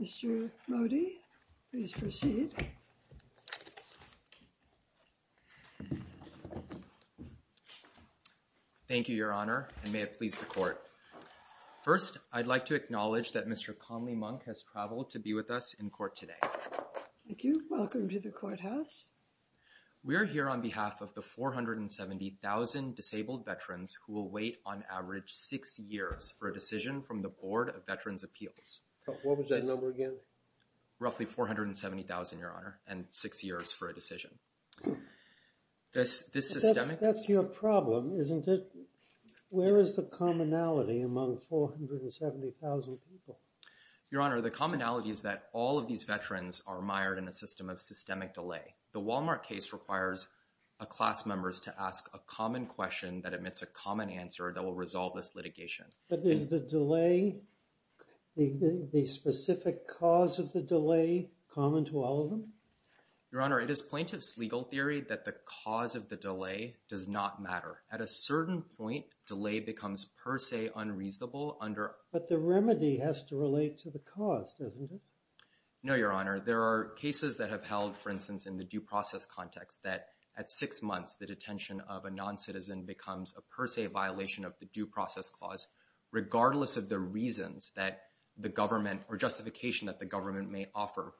Mr. Modi, please proceed. Thank you, Your Honor, and may it please the Court. First, I'd like to acknowledge that Mr. Conley Monk has traveled to be with us in court today. Thank you. Welcome to the courthouse. We are here on behalf of the 470,000 disabled veterans who will wait, on average, six years for a decision from the Board of Veterans' Appeals. What was that number again? Roughly 470,000, Your Honor, and six years for a decision. That's your problem, isn't it? Where is the commonality among 470,000 people? Your Honor, the commonality is that all of these veterans are mired in a system of systemic delay. The Walmart case requires class members to ask a common question that admits a common answer that will resolve this litigation. But is the delay, the specific cause of the delay, common to all of them? Your Honor, it is plaintiff's legal theory that the cause of the delay does not matter. At a certain point, delay becomes per se unreasonable under— But the remedy has to relate to the cause, doesn't it? No, Your Honor. There are cases that have held, for instance, in the due process context that at six months, the detention of a non-citizen becomes a per se violation of the due process clause, regardless of the reasons that the government or justification that the government may offer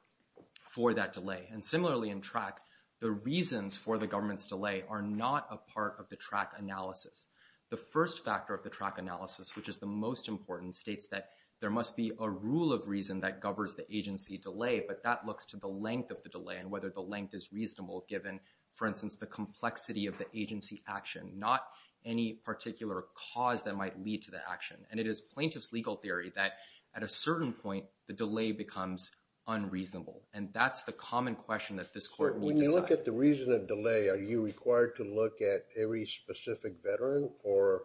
for that delay. And similarly in track, the reasons for the government's delay are not a part of the track analysis. The first factor of the track analysis, which is the most important, states that there must be a rule of reason that governs the agency delay, but that looks to the length of the delay and the length is reasonable given, for instance, the complexity of the agency action, not any particular cause that might lead to the action. And it is plaintiff's legal theory that at a certain point, the delay becomes unreasonable. And that's the common question that this court will decide. When you look at the reason of delay, are you required to look at every specific veteran, or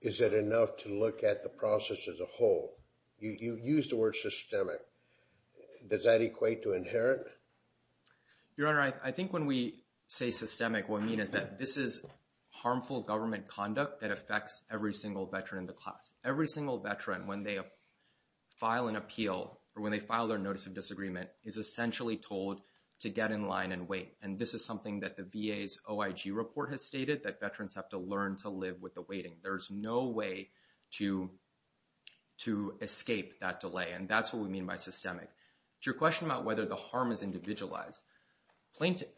is it enough to look at the process as a whole? You used the word systemic. Does that equate to inherent? Your Honor, I think when we say systemic, what I mean is that this is harmful government conduct that affects every single veteran in the class. Every single veteran, when they file an appeal, or when they file their notice of disagreement, is essentially told to get in line and wait. And this is something that the VA's OIG report has stated, that veterans have to learn to live with the waiting. There's no way to escape that delay. And that's what we mean by systemic. To your question about whether the harm is individualized,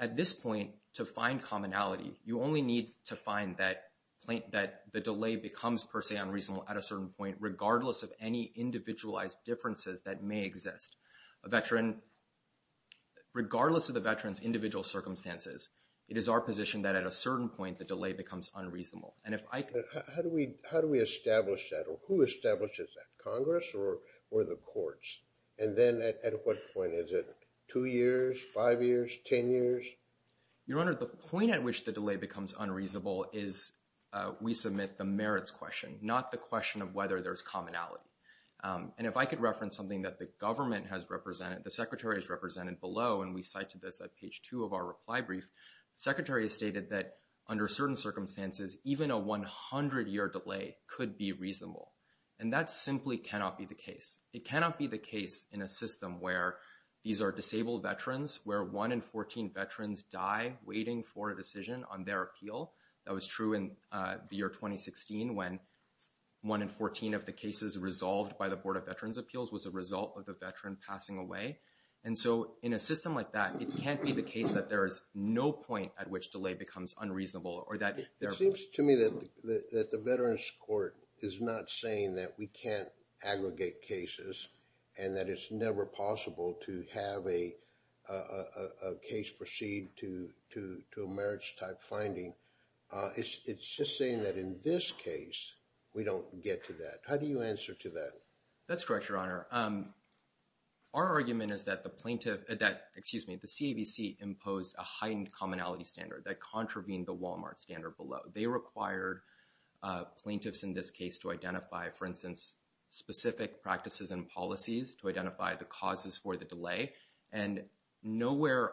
at this point, to find commonality, you only need to find that the delay becomes, per se, unreasonable at a certain point, regardless of any individualized differences that may exist. A veteran, regardless of the veteran's individual circumstances, it is our position that at a certain point, the delay becomes unreasonable. And if I could- How do we establish that? Or who establishes that? Congress or the courts? And then at what point? Is it two years, five years, 10 years? Your Honor, the point at which the delay becomes unreasonable is we submit the merits question, not the question of whether there's commonality. And if I could reference something that the government has represented, the Secretary has represented below, and we cite to this at page two of our reply brief, the Secretary has stated that under certain circumstances, even a 100-year delay could be reasonable. And that simply cannot be the case. It cannot be the case in a system where these are disabled veterans, where one in 14 veterans die waiting for a decision on their appeal. That was true in the year 2016, when one in 14 of the cases resolved by the Board of Veterans Appeals was a result of a veteran passing away. And so in a system like that, it can't be the case that there is no point at which delay becomes unreasonable, or that- It seems to me that the Veterans Court is not saying that we can't aggregate cases, and that it's never possible to have a case proceed to a merits-type finding. It's just saying that in this case, we don't get to that. How do you answer to that? That's correct, Your Honor. Our argument is that the plaintiff, excuse me, the CAVC imposed a heightened commonality standard that contravened the Walmart standard below. They required plaintiffs in this case to identify, for instance, specific practices and policies to identify the causes for the delay. And nowhere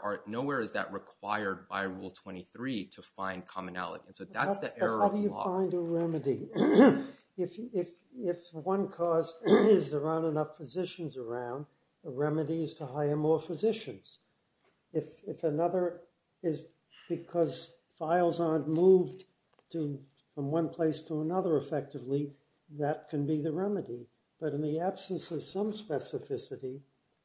is that required by Rule 23 to find commonality. And so that's the error of the law. But how do you find a remedy? If one cause is there aren't enough physicians around, the remedy is to hire more physicians. If another is because files aren't moved from one place to another effectively, that can be the remedy. But in the absence of some specificity,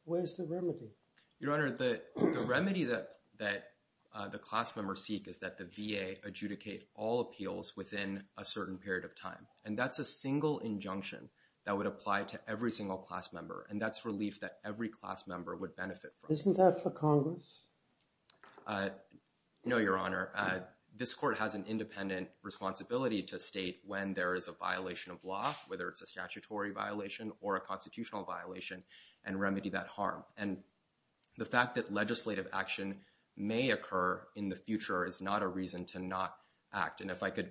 where's the remedy? Your Honor, the remedy that the class members seek is that the VA adjudicate all appeals within a certain period of time. And that's a single injunction that would apply to every single class member. And that's relief that every class member would benefit from. Isn't that for Congress? No, Your Honor. This court has an independent responsibility to state when there is a violation of law, whether it's a statutory violation or a constitutional violation, and remedy that harm. And the fact that legislative action may occur in the future is not a reason to not act. And if I could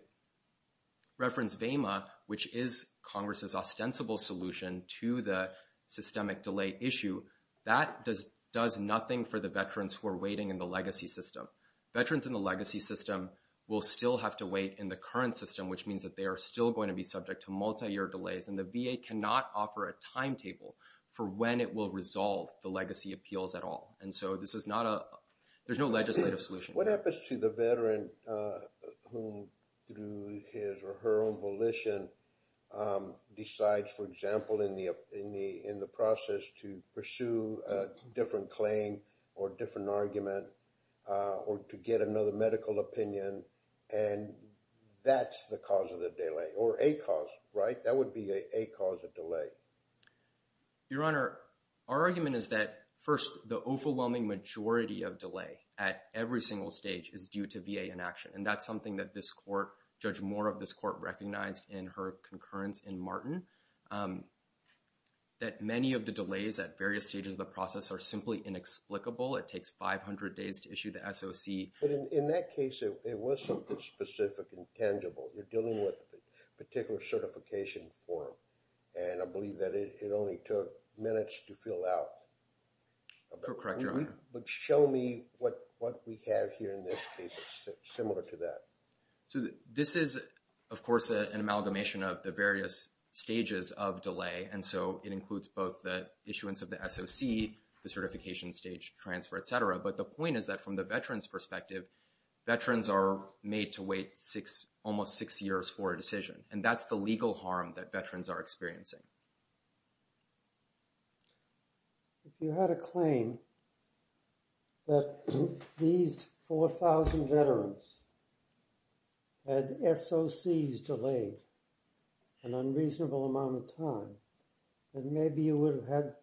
reference VEMA, which is Congress's ostensible solution to the systemic delay issue, that does nothing for the veterans who are waiting in the legacy system. Veterans in the legacy system will still have to wait in the current system, which means that they are still going to be subject to multi-year delays. And the VA cannot offer a timetable for when it will resolve the legacy appeals at all. And so there's no legislative solution. What happens to the veteran who, through his or her own volition, decides, for example, in the process to pursue a different claim or different argument or to get another medical opinion, and that's the cause of the delay or a cause, right? That would be a cause of delay. Your Honor, our argument is that, first, the overwhelming majority of delay at every single stage is due to VA inaction. And that's something that this court, Judge Moore of this court, recognized in her concurrence in Martin, that many of the delays at various stages of the process are simply inexplicable. It takes 500 days to issue the SOC. But in that case, it was something specific and tangible. You're dealing with a particular certification form. And I believe that it only took minutes to fill out. You're correct, Your Honor. But show me what we have here in this case that's similar to that. So this is, of course, an amalgamation of the various stages of delay. And so it includes both the issuance of the SOC, the certification stage transfer, et cetera. But the point is that, from the veteran's perspective, veterans are made to wait almost six years for a decision. And that's the legal harm that veterans are experiencing. If you had a claim that these 4,000 veterans had SOCs delayed an unreasonable amount of time, then maybe you would have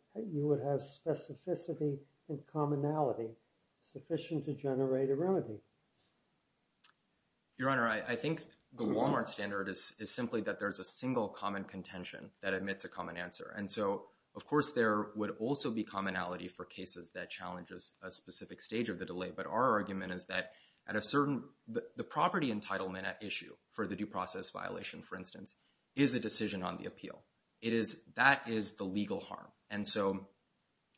specificity and commonality sufficient to generate a remedy. Your Honor, I think the Walmart standard is simply that there's a single common contention that admits a common answer. And so, of course, there would also be commonality for cases that challenges a specific stage of the delay. But our argument is that the property entitlement at issue for the due process violation, for instance, is a decision on the appeal. That is the legal harm. And so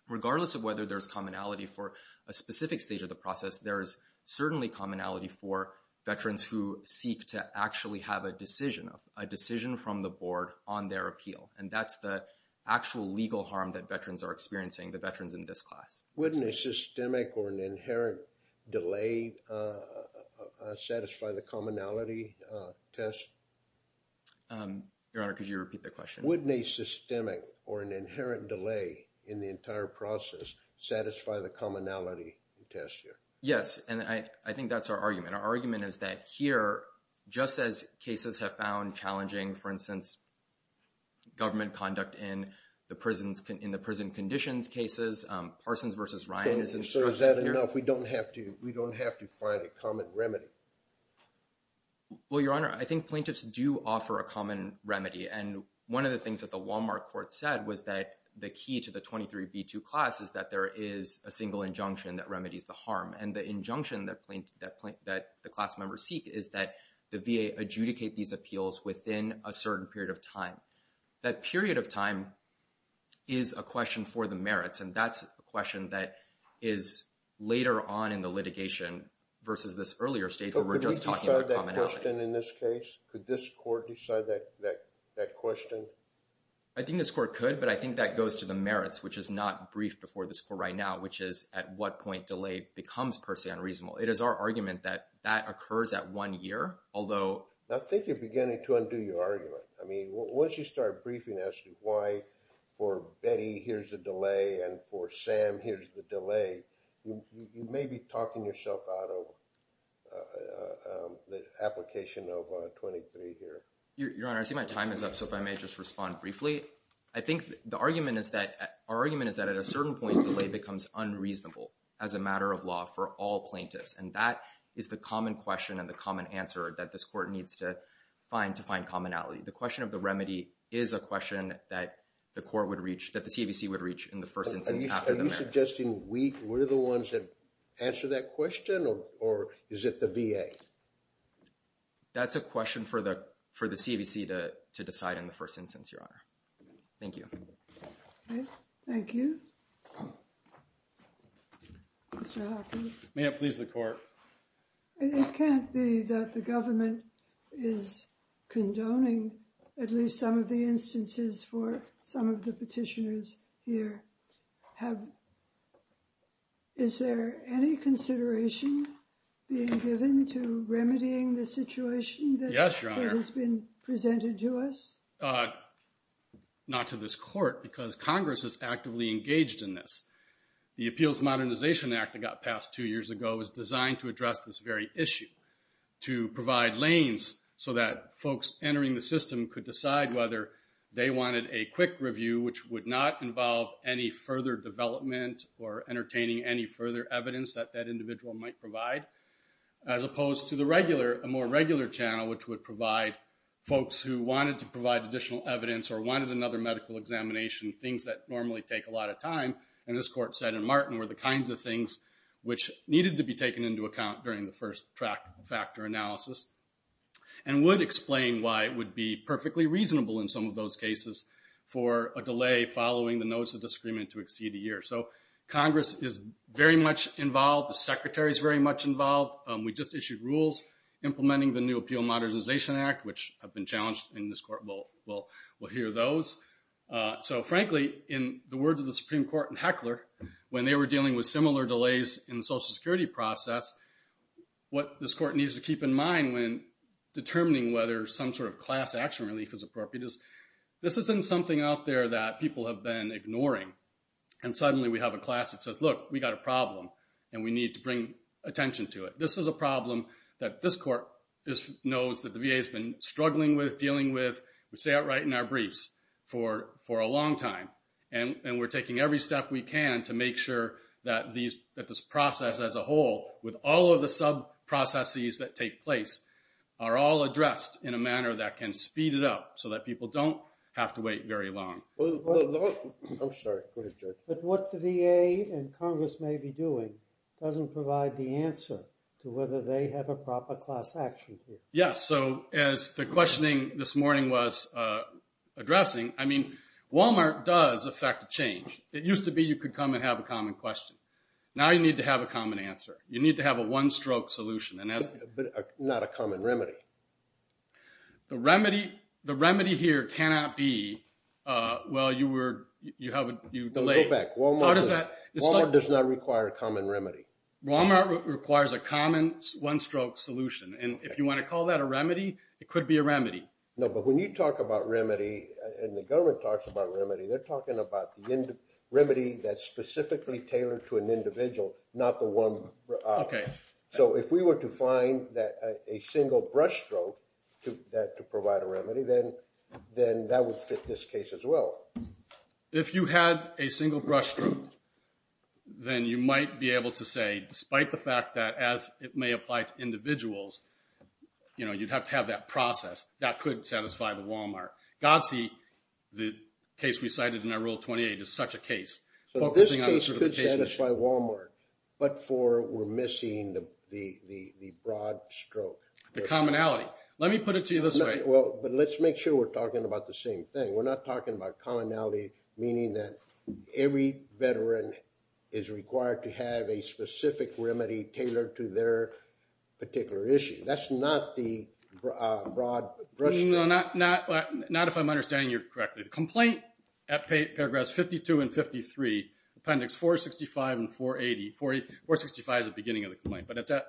regardless of whether there's commonality for a specific stage of the process, there is certainly commonality for veterans who seek to actually have a decision, a decision from the board on their appeal. And that's the actual legal harm that veterans are experiencing, the veterans in this class. Wouldn't a systemic or an inherent delay satisfy the commonality test? Your Honor, could you repeat the question? Wouldn't a systemic or an inherent delay in the entire process satisfy the commonality test here? Yes. And I think that's our argument. Our argument is that here, just as cases have found challenging, for instance, government conduct in the prison conditions cases, Parsons versus Ryan is an example here. So is that enough? We don't have to find a common remedy? Well, Your Honor, I think plaintiffs do offer a common remedy. And one of the things that the Walmart court said was that the key to the 23b2 class is that there is a single injunction that remedies the harm. And the injunction that the class members seek is that the VA adjudicate these appeals within a certain period of time. That period of time is a question for the merits. And that's a question that is later on in the litigation versus this earlier stage where we're just talking about commonality. So could we decide that question in this case? Could this court decide that question? I think this court could, but I think that goes to the merits, which is not briefed before this court right now, which is at what point delay becomes personally unreasonable. It is our argument that that occurs at one year, although- I think you're beginning to undo your argument. I mean, once you start briefing as to why for Betty, here's the delay, and for Sam, here's the delay, you may be talking yourself out of the application of 23 here. Your Honor, I see my time is up. So if I may just respond briefly. I think the argument is that at a certain point, delay becomes unreasonable as a matter of law for all plaintiffs. And that is the common question and the common answer that this court needs to find commonality. The question of the remedy is a question that the court would reach, that the CAVC would reach in the first instance after the merits. Are you suggesting we're the ones that answer that question, or is it the VA? That's a question for the CAVC to decide in the first instance, Your Honor. Thank you. Thank you. Mr. Hockney. May it please the court. It can't be that the government is condoning at least some of the instances for some of the petitioners here. Is there any consideration being given to remedying the situation that has been presented to us? Not to this court, because Congress is actively engaged in this. The Appeals Modernization Act that got passed two years ago was designed to address this very issue. To provide lanes so that folks entering the system could decide whether they wanted a quick review, which would not involve any further development or entertaining any further evidence that that individual might provide. As opposed to the regular, a more regular channel, which would provide folks who wanted to provide additional evidence or wanted another medical examination, things that normally take a lot of time. And as this court said in Martin, were the kinds of things which needed to be taken into account during the first factor analysis. And would explain why it would be perfectly reasonable in some of those cases for a delay following the notice of disagreement to exceed a year. Congress is very much involved. The Secretary is very much involved. We just issued rules implementing the new Appeal Modernization Act, which have been challenged, and this court will hear those. So frankly, in the words of the Supreme Court and Heckler, when they were dealing with similar delays in the Social Security process, what this court needs to keep in mind when determining whether some sort of class action relief is appropriate is, this isn't something out there that people have been ignoring. And suddenly we have a class that says, look, we got a problem, and we need to bring attention to it. This is a problem that this court knows that the VA has been struggling with, dealing with, we say outright in our briefs, for a long time. And we're taking every step we can to make sure that this process as a whole, with all of the sub-processes that take place, are all addressed in a manner that can speed it up so that people don't have to wait very long. I'm sorry, go ahead, Judge. But what the VA and Congress may be doing doesn't provide the answer to whether they have a proper class action. Yes. So as the questioning this morning was addressing, I mean, Walmart does affect change. It used to be you could come and have a common question. Now you need to have a common answer. You need to have a one-stroke solution. But not a common remedy. The remedy here cannot be, well, you were, you have a delay. Walmart does not require a common remedy. Walmart requires a common one-stroke solution. And if you want to call that a remedy, it could be a remedy. No, but when you talk about remedy, and the government talks about remedy, they're talking about the remedy that's specifically tailored to an individual, not the one. So if we were to find a single brush stroke to provide a remedy, then that would fit this case as well. If you had a single brush stroke, then you might be able to say, despite the fact that as it may apply to individuals, you know, you'd have to have that process. That could satisfy the Walmart. God see, the case we cited in our Rule 28 is such a case. So this case could satisfy Walmart, but for, we're missing the broad stroke. The commonality. Let me put it to you this way. Well, but let's make sure we're talking about the same thing. We're not talking about commonality, meaning that every veteran is required to have a specific remedy tailored to their particular issue. That's not the broad brush stroke. No, not if I'm understanding you correctly. The complaint at paragraphs 52 and 53, appendix 465 and 480, 465 is the beginning of the complaint, but it's at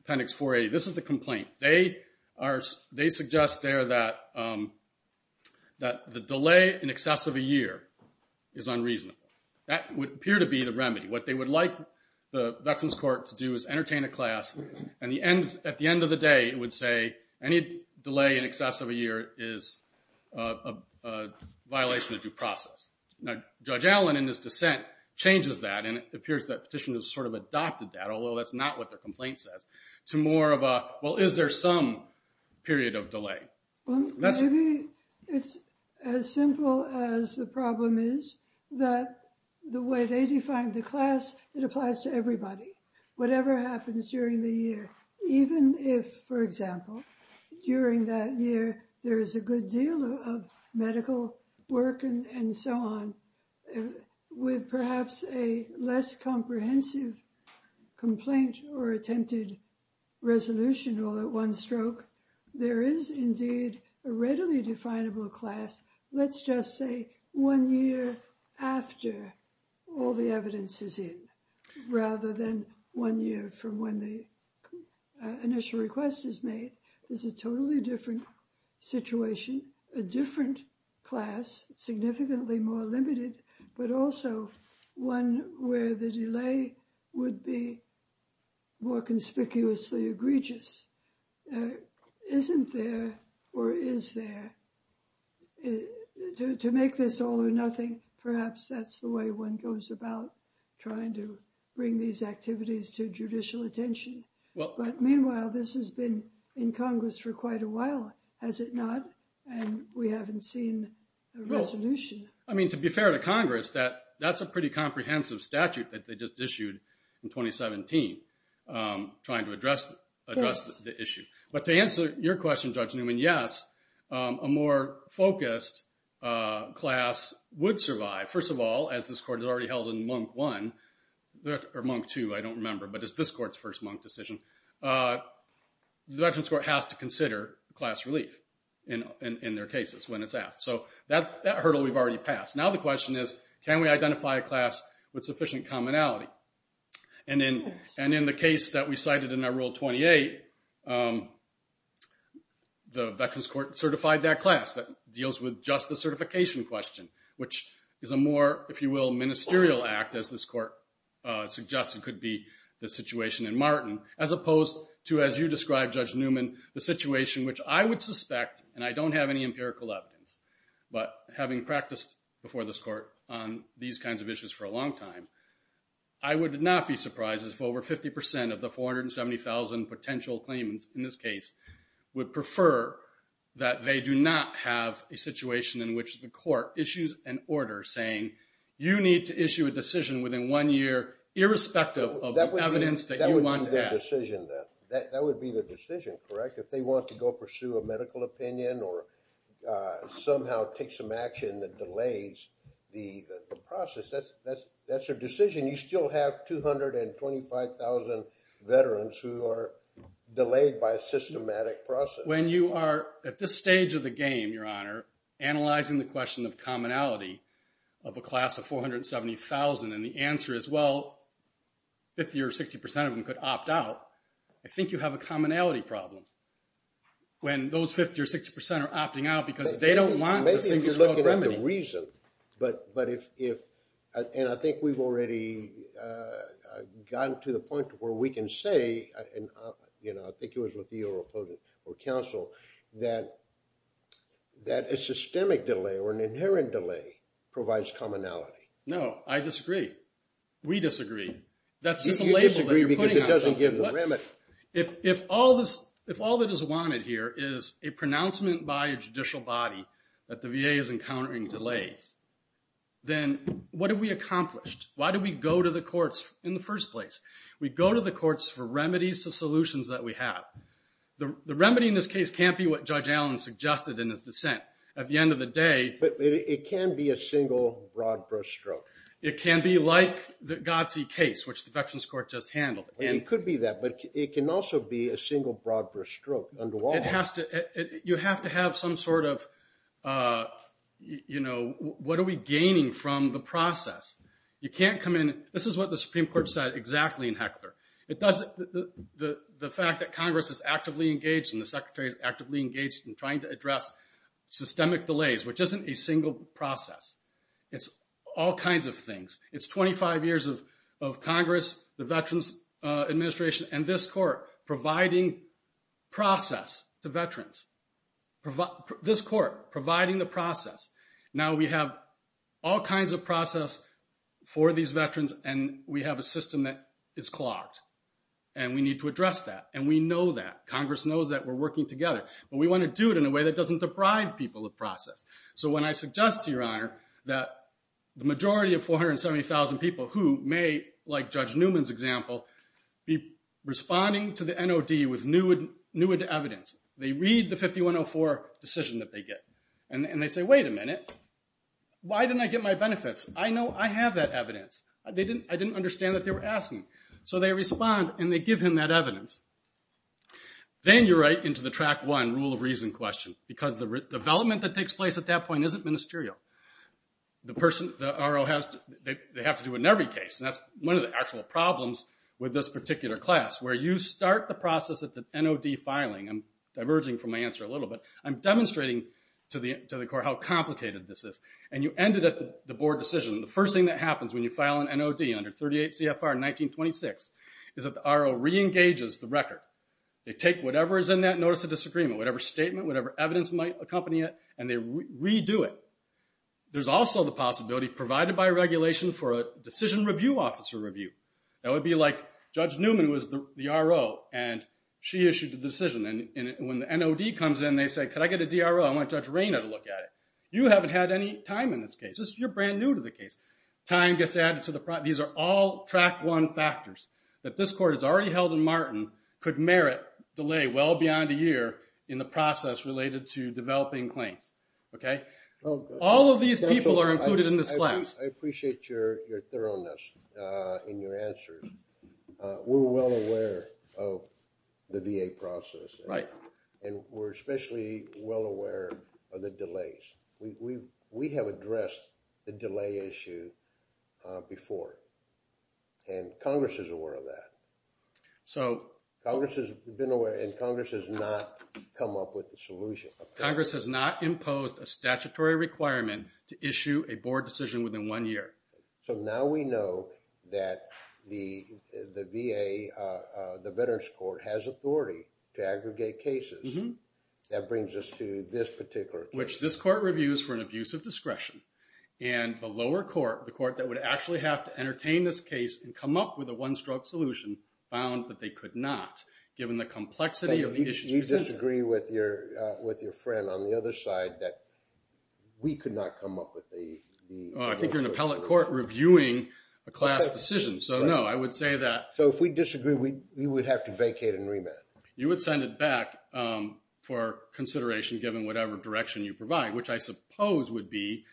appendix 480. This is the complaint. They are, they suggest there that the delay in excess of a year is unreasonable. That would appear to be the remedy. What they would like the Veterans Court to do is entertain a class, and at the end of the day, it would say any delay in excess of a year is a violation of due process. Now, Judge Allen, in his dissent, changes that, and it appears that petitioners sort of adopted that, although that's not what their complaint says, to more of a, well, is there some period of delay? Well, maybe it's as simple as the problem is that the way they define the class, it applies to everybody. Whatever happens during the year, even if, for example, during that year, there is a good deal of medical work and so on, with perhaps a less comprehensive complaint or one stroke, there is indeed a readily definable class, let's just say one year after all the evidence is in, rather than one year from when the initial request is made. It's a totally different situation, a different class, significantly more limited, but also one where the delay would be more conspicuously egregious. Isn't there, or is there? To make this all or nothing, perhaps that's the way one goes about trying to bring these activities to judicial attention. But meanwhile, this has been in Congress for quite a while, has it not? And we haven't seen a resolution. I mean, to be fair to Congress, that's a pretty comprehensive statute that they just issued in 2017, trying to address the issue. But to answer your question, Judge Newman, yes, a more focused class would survive. First of all, as this Court has already held in Monk 1, or Monk 2, I don't remember, but it's this Court's first Monk decision, the Veterans Court has to consider class relief in their cases when it's asked. So that hurdle we've already passed. Now the question is, can we identify a class with sufficient commonality? And in the case that we cited in our Rule 28, the Veterans Court certified that class. That deals with just the certification question, which is a more, if you will, ministerial act, as this Court suggested could be the situation in Martin, as opposed to, as you described, Judge Newman, the situation which I would suspect, and I don't have any empirical evidence, but having practiced before this Court on these kinds of issues for a long time, I would not be surprised if over 50% of the 470,000 potential claimants in this case would prefer that they do not have a situation in which the Court issues an order saying, you need to issue a decision within one year, irrespective of the evidence that you want to have. That would be the decision, then. That would be the decision, correct? If they want to go pursue a medical opinion or somehow take some action that delays the process, that's their decision. You still have 225,000 veterans who are delayed by a systematic process. When you are at this stage of the game, Your Honor, analyzing the question of commonality of a class of 470,000, and the answer is, well, 50% or 60% of them could opt out, I mean, when those 50% or 60% are opting out because they don't want a specific remedy. Maybe you're looking at the reason, but if, and I think we've already gotten to the point to where we can say, and I think it was with you or counsel, that a systemic delay or an inherent delay provides commonality. No, I disagree. We disagree. That's just a label that you're putting on something. You disagree because it doesn't give the remedy. If all that is wanted here is a pronouncement by a judicial body that the VA is encountering delays, then what have we accomplished? Why did we go to the courts in the first place? We go to the courts for remedies to solutions that we have. The remedy in this case can't be what Judge Allen suggested in his dissent. At the end of the day- But it can be a single broad-brush stroke. It can be like the Godsey case, which the Veterans Court just handled. It could be that, but it can also be a single broad-brush stroke. You have to have some sort of, what are we gaining from the process? This is what the Supreme Court said exactly in Heckler. The fact that Congress is actively engaged and the Secretary is actively engaged in trying to address systemic delays, which isn't a single process. It's all kinds of things. It's 25 years of Congress, the Veterans Administration, and this court providing process to veterans. This court providing the process. Now we have all kinds of process for these veterans, and we have a system that is clogged. We need to address that, and we know that. Congress knows that we're working together, but we want to do it in a way that doesn't deprive people of process. When I suggest to Your Honor that the majority of 470,000 people who may, like Judge Newman's example, be responding to the NOD with new evidence. They read the 5104 decision that they get, and they say, wait a minute. Why didn't I get my benefits? I know I have that evidence. I didn't understand that they were asking. So they respond, and they give him that evidence. Then you're right into the track one rule of reason question, because the development that takes place at that point isn't ministerial. They have to do it in every case, and that's one of the actual problems with this particular class, where you start the process at the NOD filing. I'm diverging from my answer a little bit. I'm demonstrating to the court how complicated this is. You end it at the board decision. The first thing that happens when you file an NOD under 38 CFR 1926 is that the RO re-engages the record. They take whatever is in that notice of disagreement, whatever statement, whatever evidence might accompany it, and they redo it. There's also the possibility, provided by regulation, for a decision review officer review. That would be like Judge Newman was the RO, and she issued the decision. And when the NOD comes in, they say, could I get a DRO? I want Judge Reyna to look at it. You haven't had any time in this case. You're brand new to the case. Time gets added to the process. These are all track one factors that this court has already held in Martin, could merit delay well beyond a year in the process related to developing claims. All of these people are included in this class. I appreciate your thoroughness in your answers. We're well aware of the VA process, and we're especially well aware of the delays. We have addressed the delay issue before, and Congress is aware of that. So Congress has been aware, and Congress has not come up with the solution. Congress has not imposed a statutory requirement to issue a board decision within one year. So now we know that the VA, the Veterans Court, has authority to aggregate cases. That brings us to this particular case. Which this court reviews for an abuse of discretion. And the lower court, the court that would actually have to entertain this case and come up with a one-stroke solution, found that they could not, given the complexity of the issue. You disagree with your friend on the other side that we could not come up with the... I think you're in appellate court reviewing a class decision. So no, I would say that... So if we disagree, we would have to vacate and remand. You would send it back for consideration, given whatever direction you provide. Which I suppose would be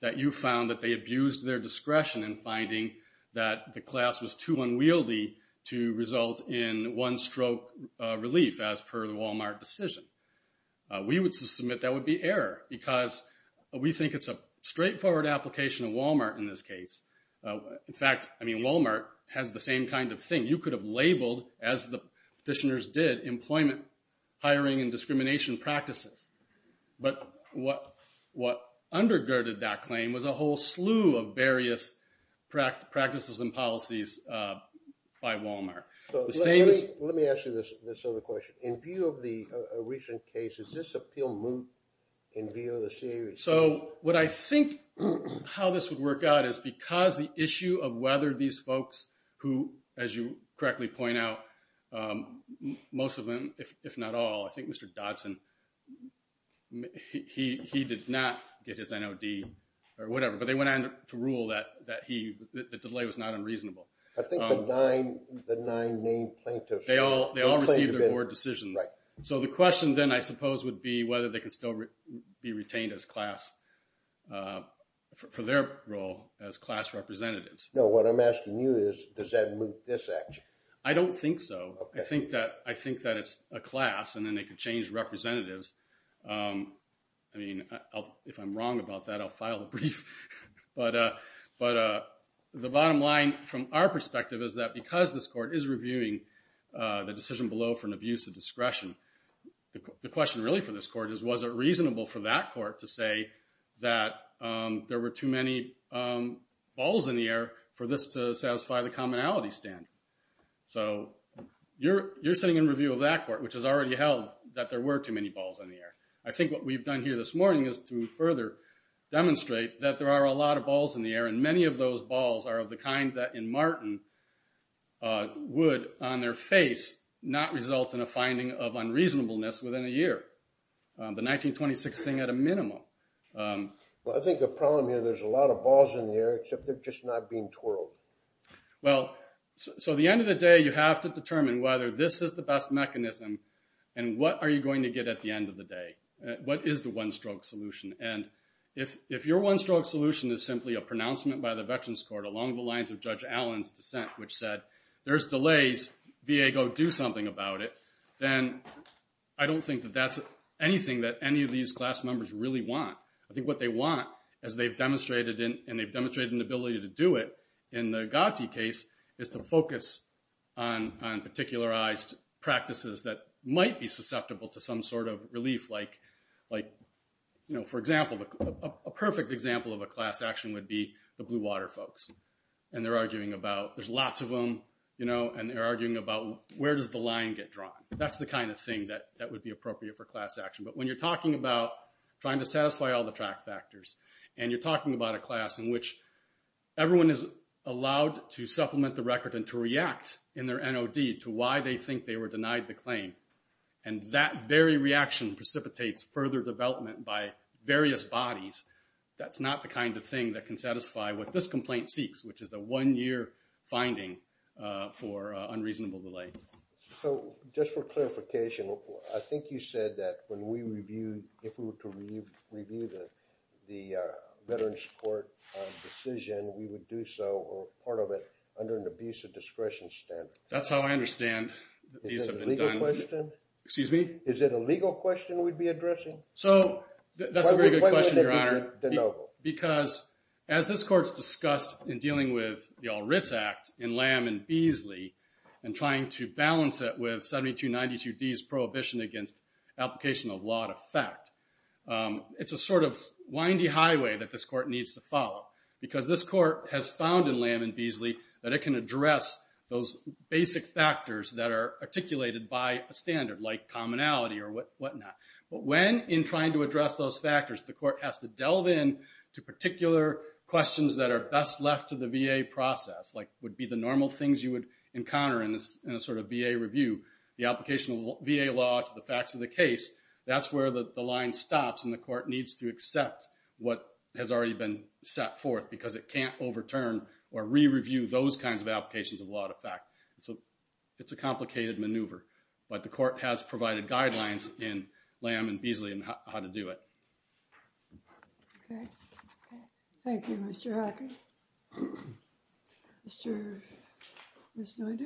that you found that they abused their discretion in finding that the class was too unwieldy to result in one-stroke relief, as per the Walmart decision. We would submit that would be error. Because we think it's a straightforward application of Walmart in this case. In fact, Walmart has the same kind of thing. You could have labeled, as the petitioners did, employment, hiring, and discrimination practices. But what undergirded that claim was a whole slew of various practices and policies by Walmart. Let me ask you this other question. In view of the recent cases, does this appeal move in view of the series? So what I think how this would work out is because the issue of whether these folks who, as you correctly point out, most of them, if not all, I think Mr. Dodson, he did not get his NOD or whatever. But they went on to rule that the delay was not unreasonable. I think the nine named plaintiffs. They all received their board decisions. So the question then, I suppose, would be whether they can still be retained as class, for their role as class representatives. No, what I'm asking you is, does that move this action? I don't think so. I think that it's a class. And then they could change representatives. I mean, if I'm wrong about that, I'll file a brief. But the bottom line, from our perspective, is that because this court is reviewing the decision below for an abuse of discretion, the question really for this court is, was it reasonable for that court to say that there were too many balls in the air for this to satisfy the commonality standard? So you're sitting in review of that court, which has already held that there were too many balls in the air. I think what we've done here this morning is to further demonstrate that there are a lot of balls in the air. And many of those balls are of the kind that, in Martin, would, on their face, not result in a finding of unreasonableness within a year. The 1926 thing, at a minimum. Well, I think the problem here, there's a lot of balls in the air, except they're just not being twirled. Well, so at the end of the day, you have to determine whether this is the best mechanism, and what are you going to get at the end of the day? What is the one-stroke solution? And if your one-stroke solution is simply a pronouncement by the Veterans Court along the lines of Judge Allen's dissent, which said, there's delays, VA, go do something about it, then I don't think that that's anything that any of these class members really want. I think what they want, as they've demonstrated, and they've demonstrated an ability to do it in the Godsey case, is to focus on particularized practices that might be susceptible to some sort of relief. For example, a perfect example of a class action would be the Blue Water folks. And they're arguing about, there's lots of them, and they're arguing about, where does the line get drawn? That's the kind of thing that would be appropriate for class action. But when you're talking about trying to satisfy all the track factors, and you're talking about a class in which everyone is allowed to supplement the record and to react in their NOD to why they think they were denied the claim, and that very reaction precipitates further development by various bodies, that's not the kind of thing that can satisfy what this complaint seeks, which is a one-year finding for unreasonable delay. So just for clarification, I think you said that when we reviewed, if we were to review the Veterans Court decision, we would do so, or part of it, under an abuse of discretion standard. That's how I understand these have been done. Is it a legal question? Excuse me? Is it a legal question we'd be addressing? So that's a very good question, Your Honor. Because as this Court's discussed in dealing with the All Writs Act in Lamb and Beasley, and trying to balance it with 7292D's prohibition against application of law to effect, it's a sort of windy highway that this Court needs to follow. Because this Court has found in Lamb and Beasley that it can address those basic factors that are articulated by a standard, like commonality or whatnot. But when, in trying to address those factors, the Court has to delve in to particular questions that are best left to the VA process, would be the normal things you would encounter in a sort of VA review. The application of VA law to the facts of the case, that's where the line stops, and the Court needs to accept what has already been set forth, because it can't overturn or re-review those kinds of applications of law to effect. So it's a complicated maneuver. But the Court has provided guidelines in Lamb and Beasley on how to do it. Okay. Thank you, Mr. Hockey. Mr.... Ms. Noiter?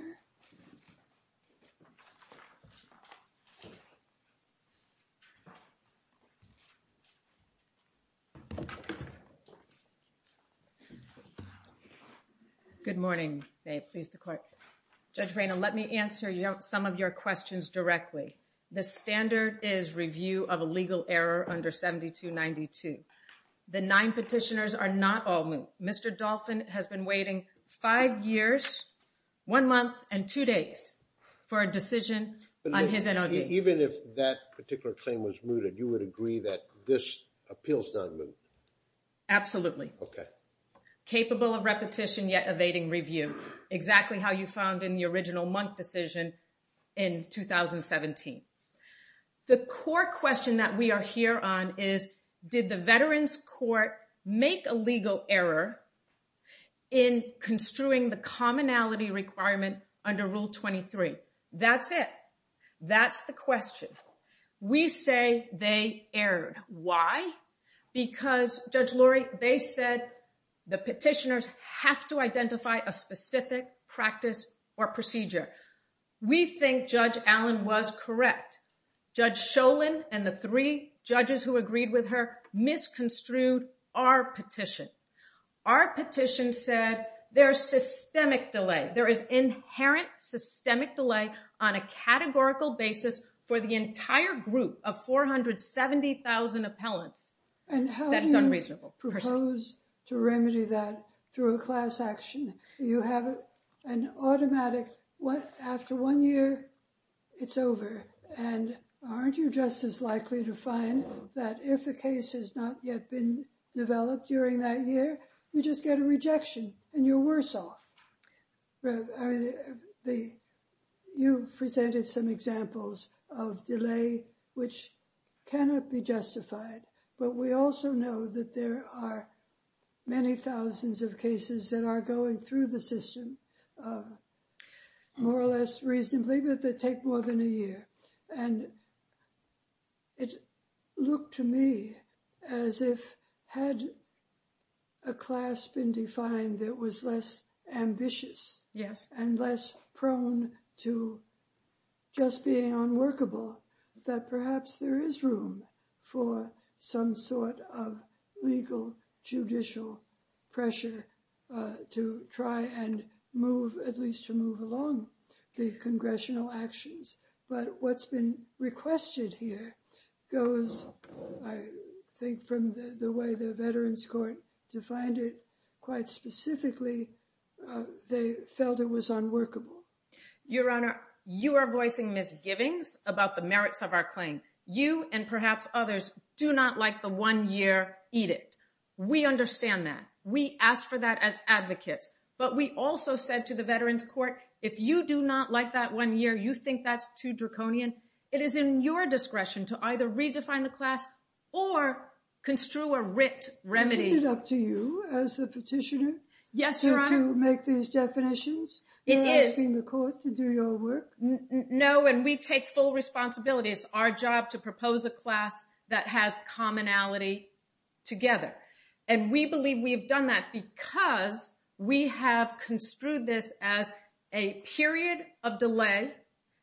Good morning. May it please the Court. Judge Rayna, let me answer some of your questions directly. The standard is review of a legal error under 7292. The nine petitioners are not all moot. Mr. Dolphin has been waiting five years, one month, and two days for a decision on his NOD. Even if that particular claim was mooted, you would agree that this appeal's not moot? Absolutely. Okay. Capable of repetition, yet evading review. Exactly how you found in the original Monk decision in 2017. The core question that we are here on is, did the Veterans Court make a legal error in construing the commonality requirement under Rule 23? That's it. That's the question. We say they erred. Why? Because, Judge Lori, they said the petitioners have to identify a specific practice or procedure. We think Judge Allen was correct. Judge Sholin and the three judges who agreed with her misconstrued our petition. Our petition said there's systemic delay. There is inherent systemic delay on a categorical basis for the entire group of 470,000 appellants. That is unreasonable. And how do you propose to remedy that through a class action? You have an automatic, after one year, it's over. And aren't you just as likely to find that if a case has not yet been developed during that year, you just get a rejection and you're worse off? You presented some examples of delay which cannot be justified. But we also know that there are many thousands of cases that are going through the system, more or less reasonably, but they take more than a year. And it looked to me as if had a class been defined that was less ambitious and less prone to just being unworkable, that perhaps there is room for some sort of legal judicial pressure to try and move, at least to move along the congressional actions. But what's been requested here goes, I think, from the way the Veterans Court defined it, quite specifically, they felt it was unworkable. Your Honor, you are voicing misgivings about the merits of our claim. You and perhaps others do not like the one year, eat it. We understand that. We asked for that as advocates. But we also said to the Veterans Court, if you do not like that one year, you think that's too draconian. It is in your discretion to either redefine the class or construe a writ remedy. Is it up to you as the petitioner? Yes, Your Honor. To make these definitions? It is. Asking the court to do your work? No, and we take full responsibility. It's our job to propose a class that has commonality together. And we believe we've done that because we have construed this as a period of delay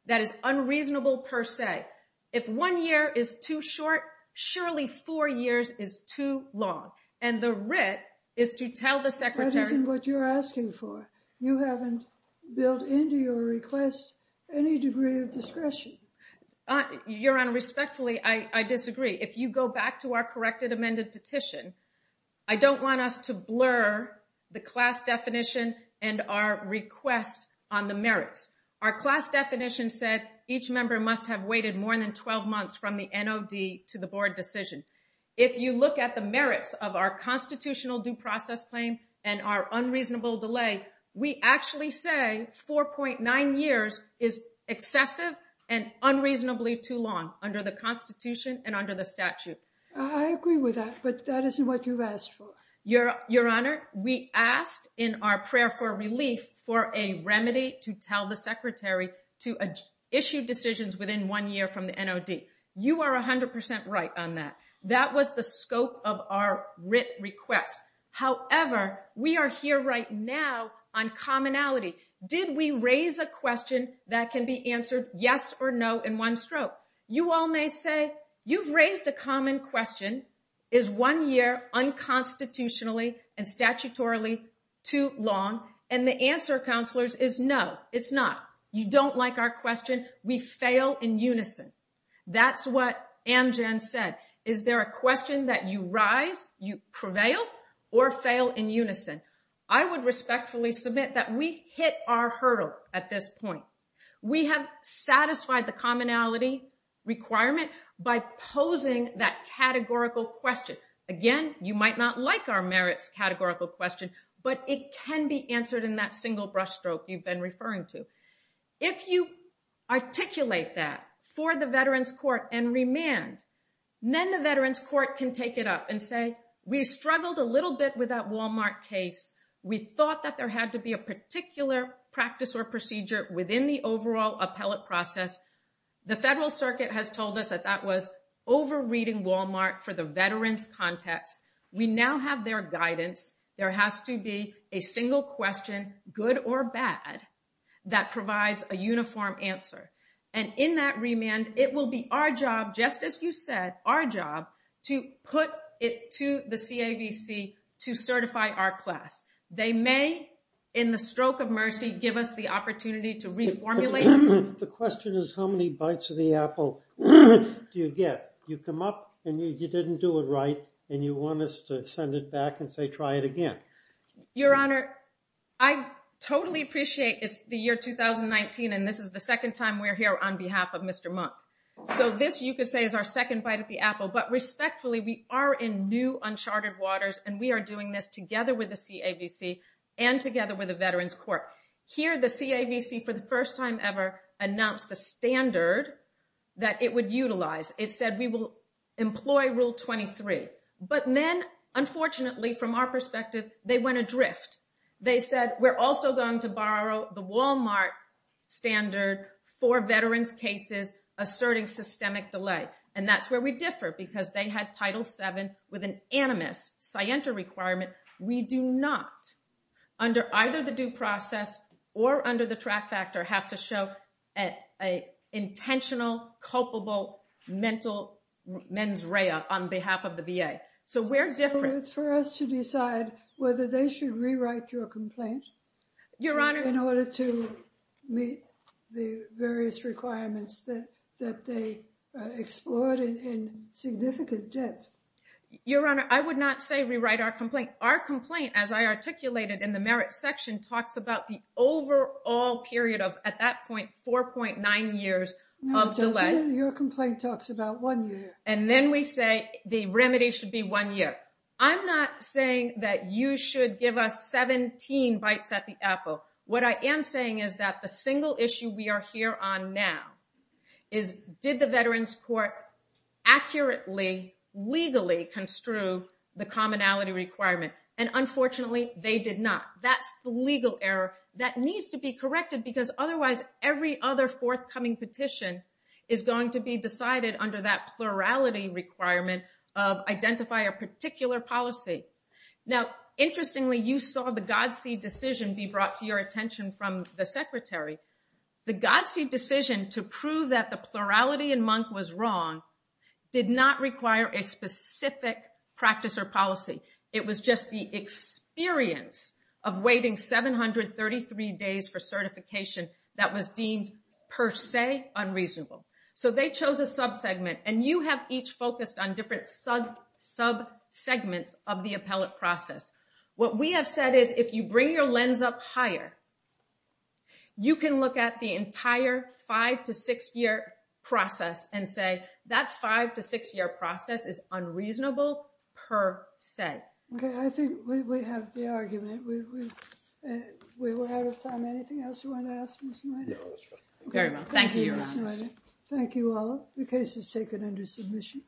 that is unreasonable per se. If one year is too short, surely four years is too long. And the writ is to tell the secretary- That isn't what you're asking for. You haven't built into your request any degree of discretion. Your Honor, respectfully, I disagree. If you go back to our corrected amended petition, I don't want us to blur the class definition and our request on the merits. Our class definition said each member must have waited more than 12 months from the NOD to the board decision. If you look at the merits of our constitutional due process claim and our unreasonable delay, we actually say 4.9 years is excessive and unreasonably too long under the Constitution and under the statute. I agree with that, but that isn't what you've asked for. Your Honor, we asked in our prayer for relief for a remedy to tell the secretary to issue decisions within one year from the NOD. You are 100% right on that. That was the scope of our writ request. However, we are here right now on commonality. Did we raise a question that can be answered yes or no in one stroke? You all may say, you've raised a common question. Is one year unconstitutionally and statutorily too long? And the answer, counselors, is no, it's not. You don't like our question. We fail in unison. Is there a question that you rise, you prevail? Or fail in unison? I would respectfully submit that we hit our hurdle at this point. We have satisfied the commonality requirement by posing that categorical question. Again, you might not like our merits categorical question, but it can be answered in that single brushstroke you've been referring to. If you articulate that for the Veterans Court and remand, then the Veterans Court can take it up and say, we struggled a little bit with that Walmart case. We thought that there had to be a particular practice or procedure within the overall appellate process. The Federal Circuit has told us that that was over-reading Walmart for the veterans context. We now have their guidance. There has to be a single question, good or bad, that provides a uniform answer. And in that remand, it will be our job, to put it to the CAVC to certify our class. They may, in the stroke of mercy, give us the opportunity to reformulate. The question is, how many bites of the apple do you get? You come up and you didn't do it right, and you want us to send it back and say, try it again. Your Honor, I totally appreciate it's the year 2019, and this is the second time we're here on behalf of Mr. Monk. So this, you could say, is our second bite at the apple. But respectfully, we are in new uncharted waters, and we are doing this together with the CAVC and together with the Veterans Court. Here, the CAVC, for the first time ever, announced the standard that it would utilize. It said, we will employ Rule 23. But then, unfortunately, from our perspective, they went adrift. They said, we're also going to borrow the Walmart standard for veterans cases asserting systemic delay. And that's where we differ, because they had Title VII with an animus scienter requirement. We do not, under either the due process or under the track factor, have to show an intentional, culpable mental mens rea on behalf of the VA. So we're different. It's for us to decide whether they should rewrite your complaint in order to meet the various requirements that they explored in significant depth. Your Honor, I would not say rewrite our complaint. Our complaint, as I articulated in the merit section, talks about the overall period of, at that point, 4.9 years of delay. Your complaint talks about one year. And then we say, the remedy should be one year. I'm not saying that you should give us 17 bites at the apple. What I am saying is that the single issue we are here on now is, did the Veterans Court accurately, legally construe the commonality requirement? And unfortunately, they did not. That's the legal error that needs to be corrected, because otherwise, every other forthcoming petition is going to be decided under that plurality requirement of identify a particular policy. Now, interestingly, you saw the Godseed decision be brought to your attention from the Secretary. The Godseed decision to prove that the plurality in month was wrong did not require a specific practice or policy. It was just the experience of waiting 733 days for certification that was deemed, per se, unreasonable. So they chose a subsegment. And you have each focused on different subsegments of the appellate process. What we have said is, if you bring your lens up higher, you can look at the entire five to six year process and say, that five to six year process is unreasonable, per se. OK, I think we have the argument. We were out of time. Anything else you want to ask Ms. Knight? No, that's fine. Very well. Thank you, Your Honor. Ms. Knight, thank you all. The case is taken under submission.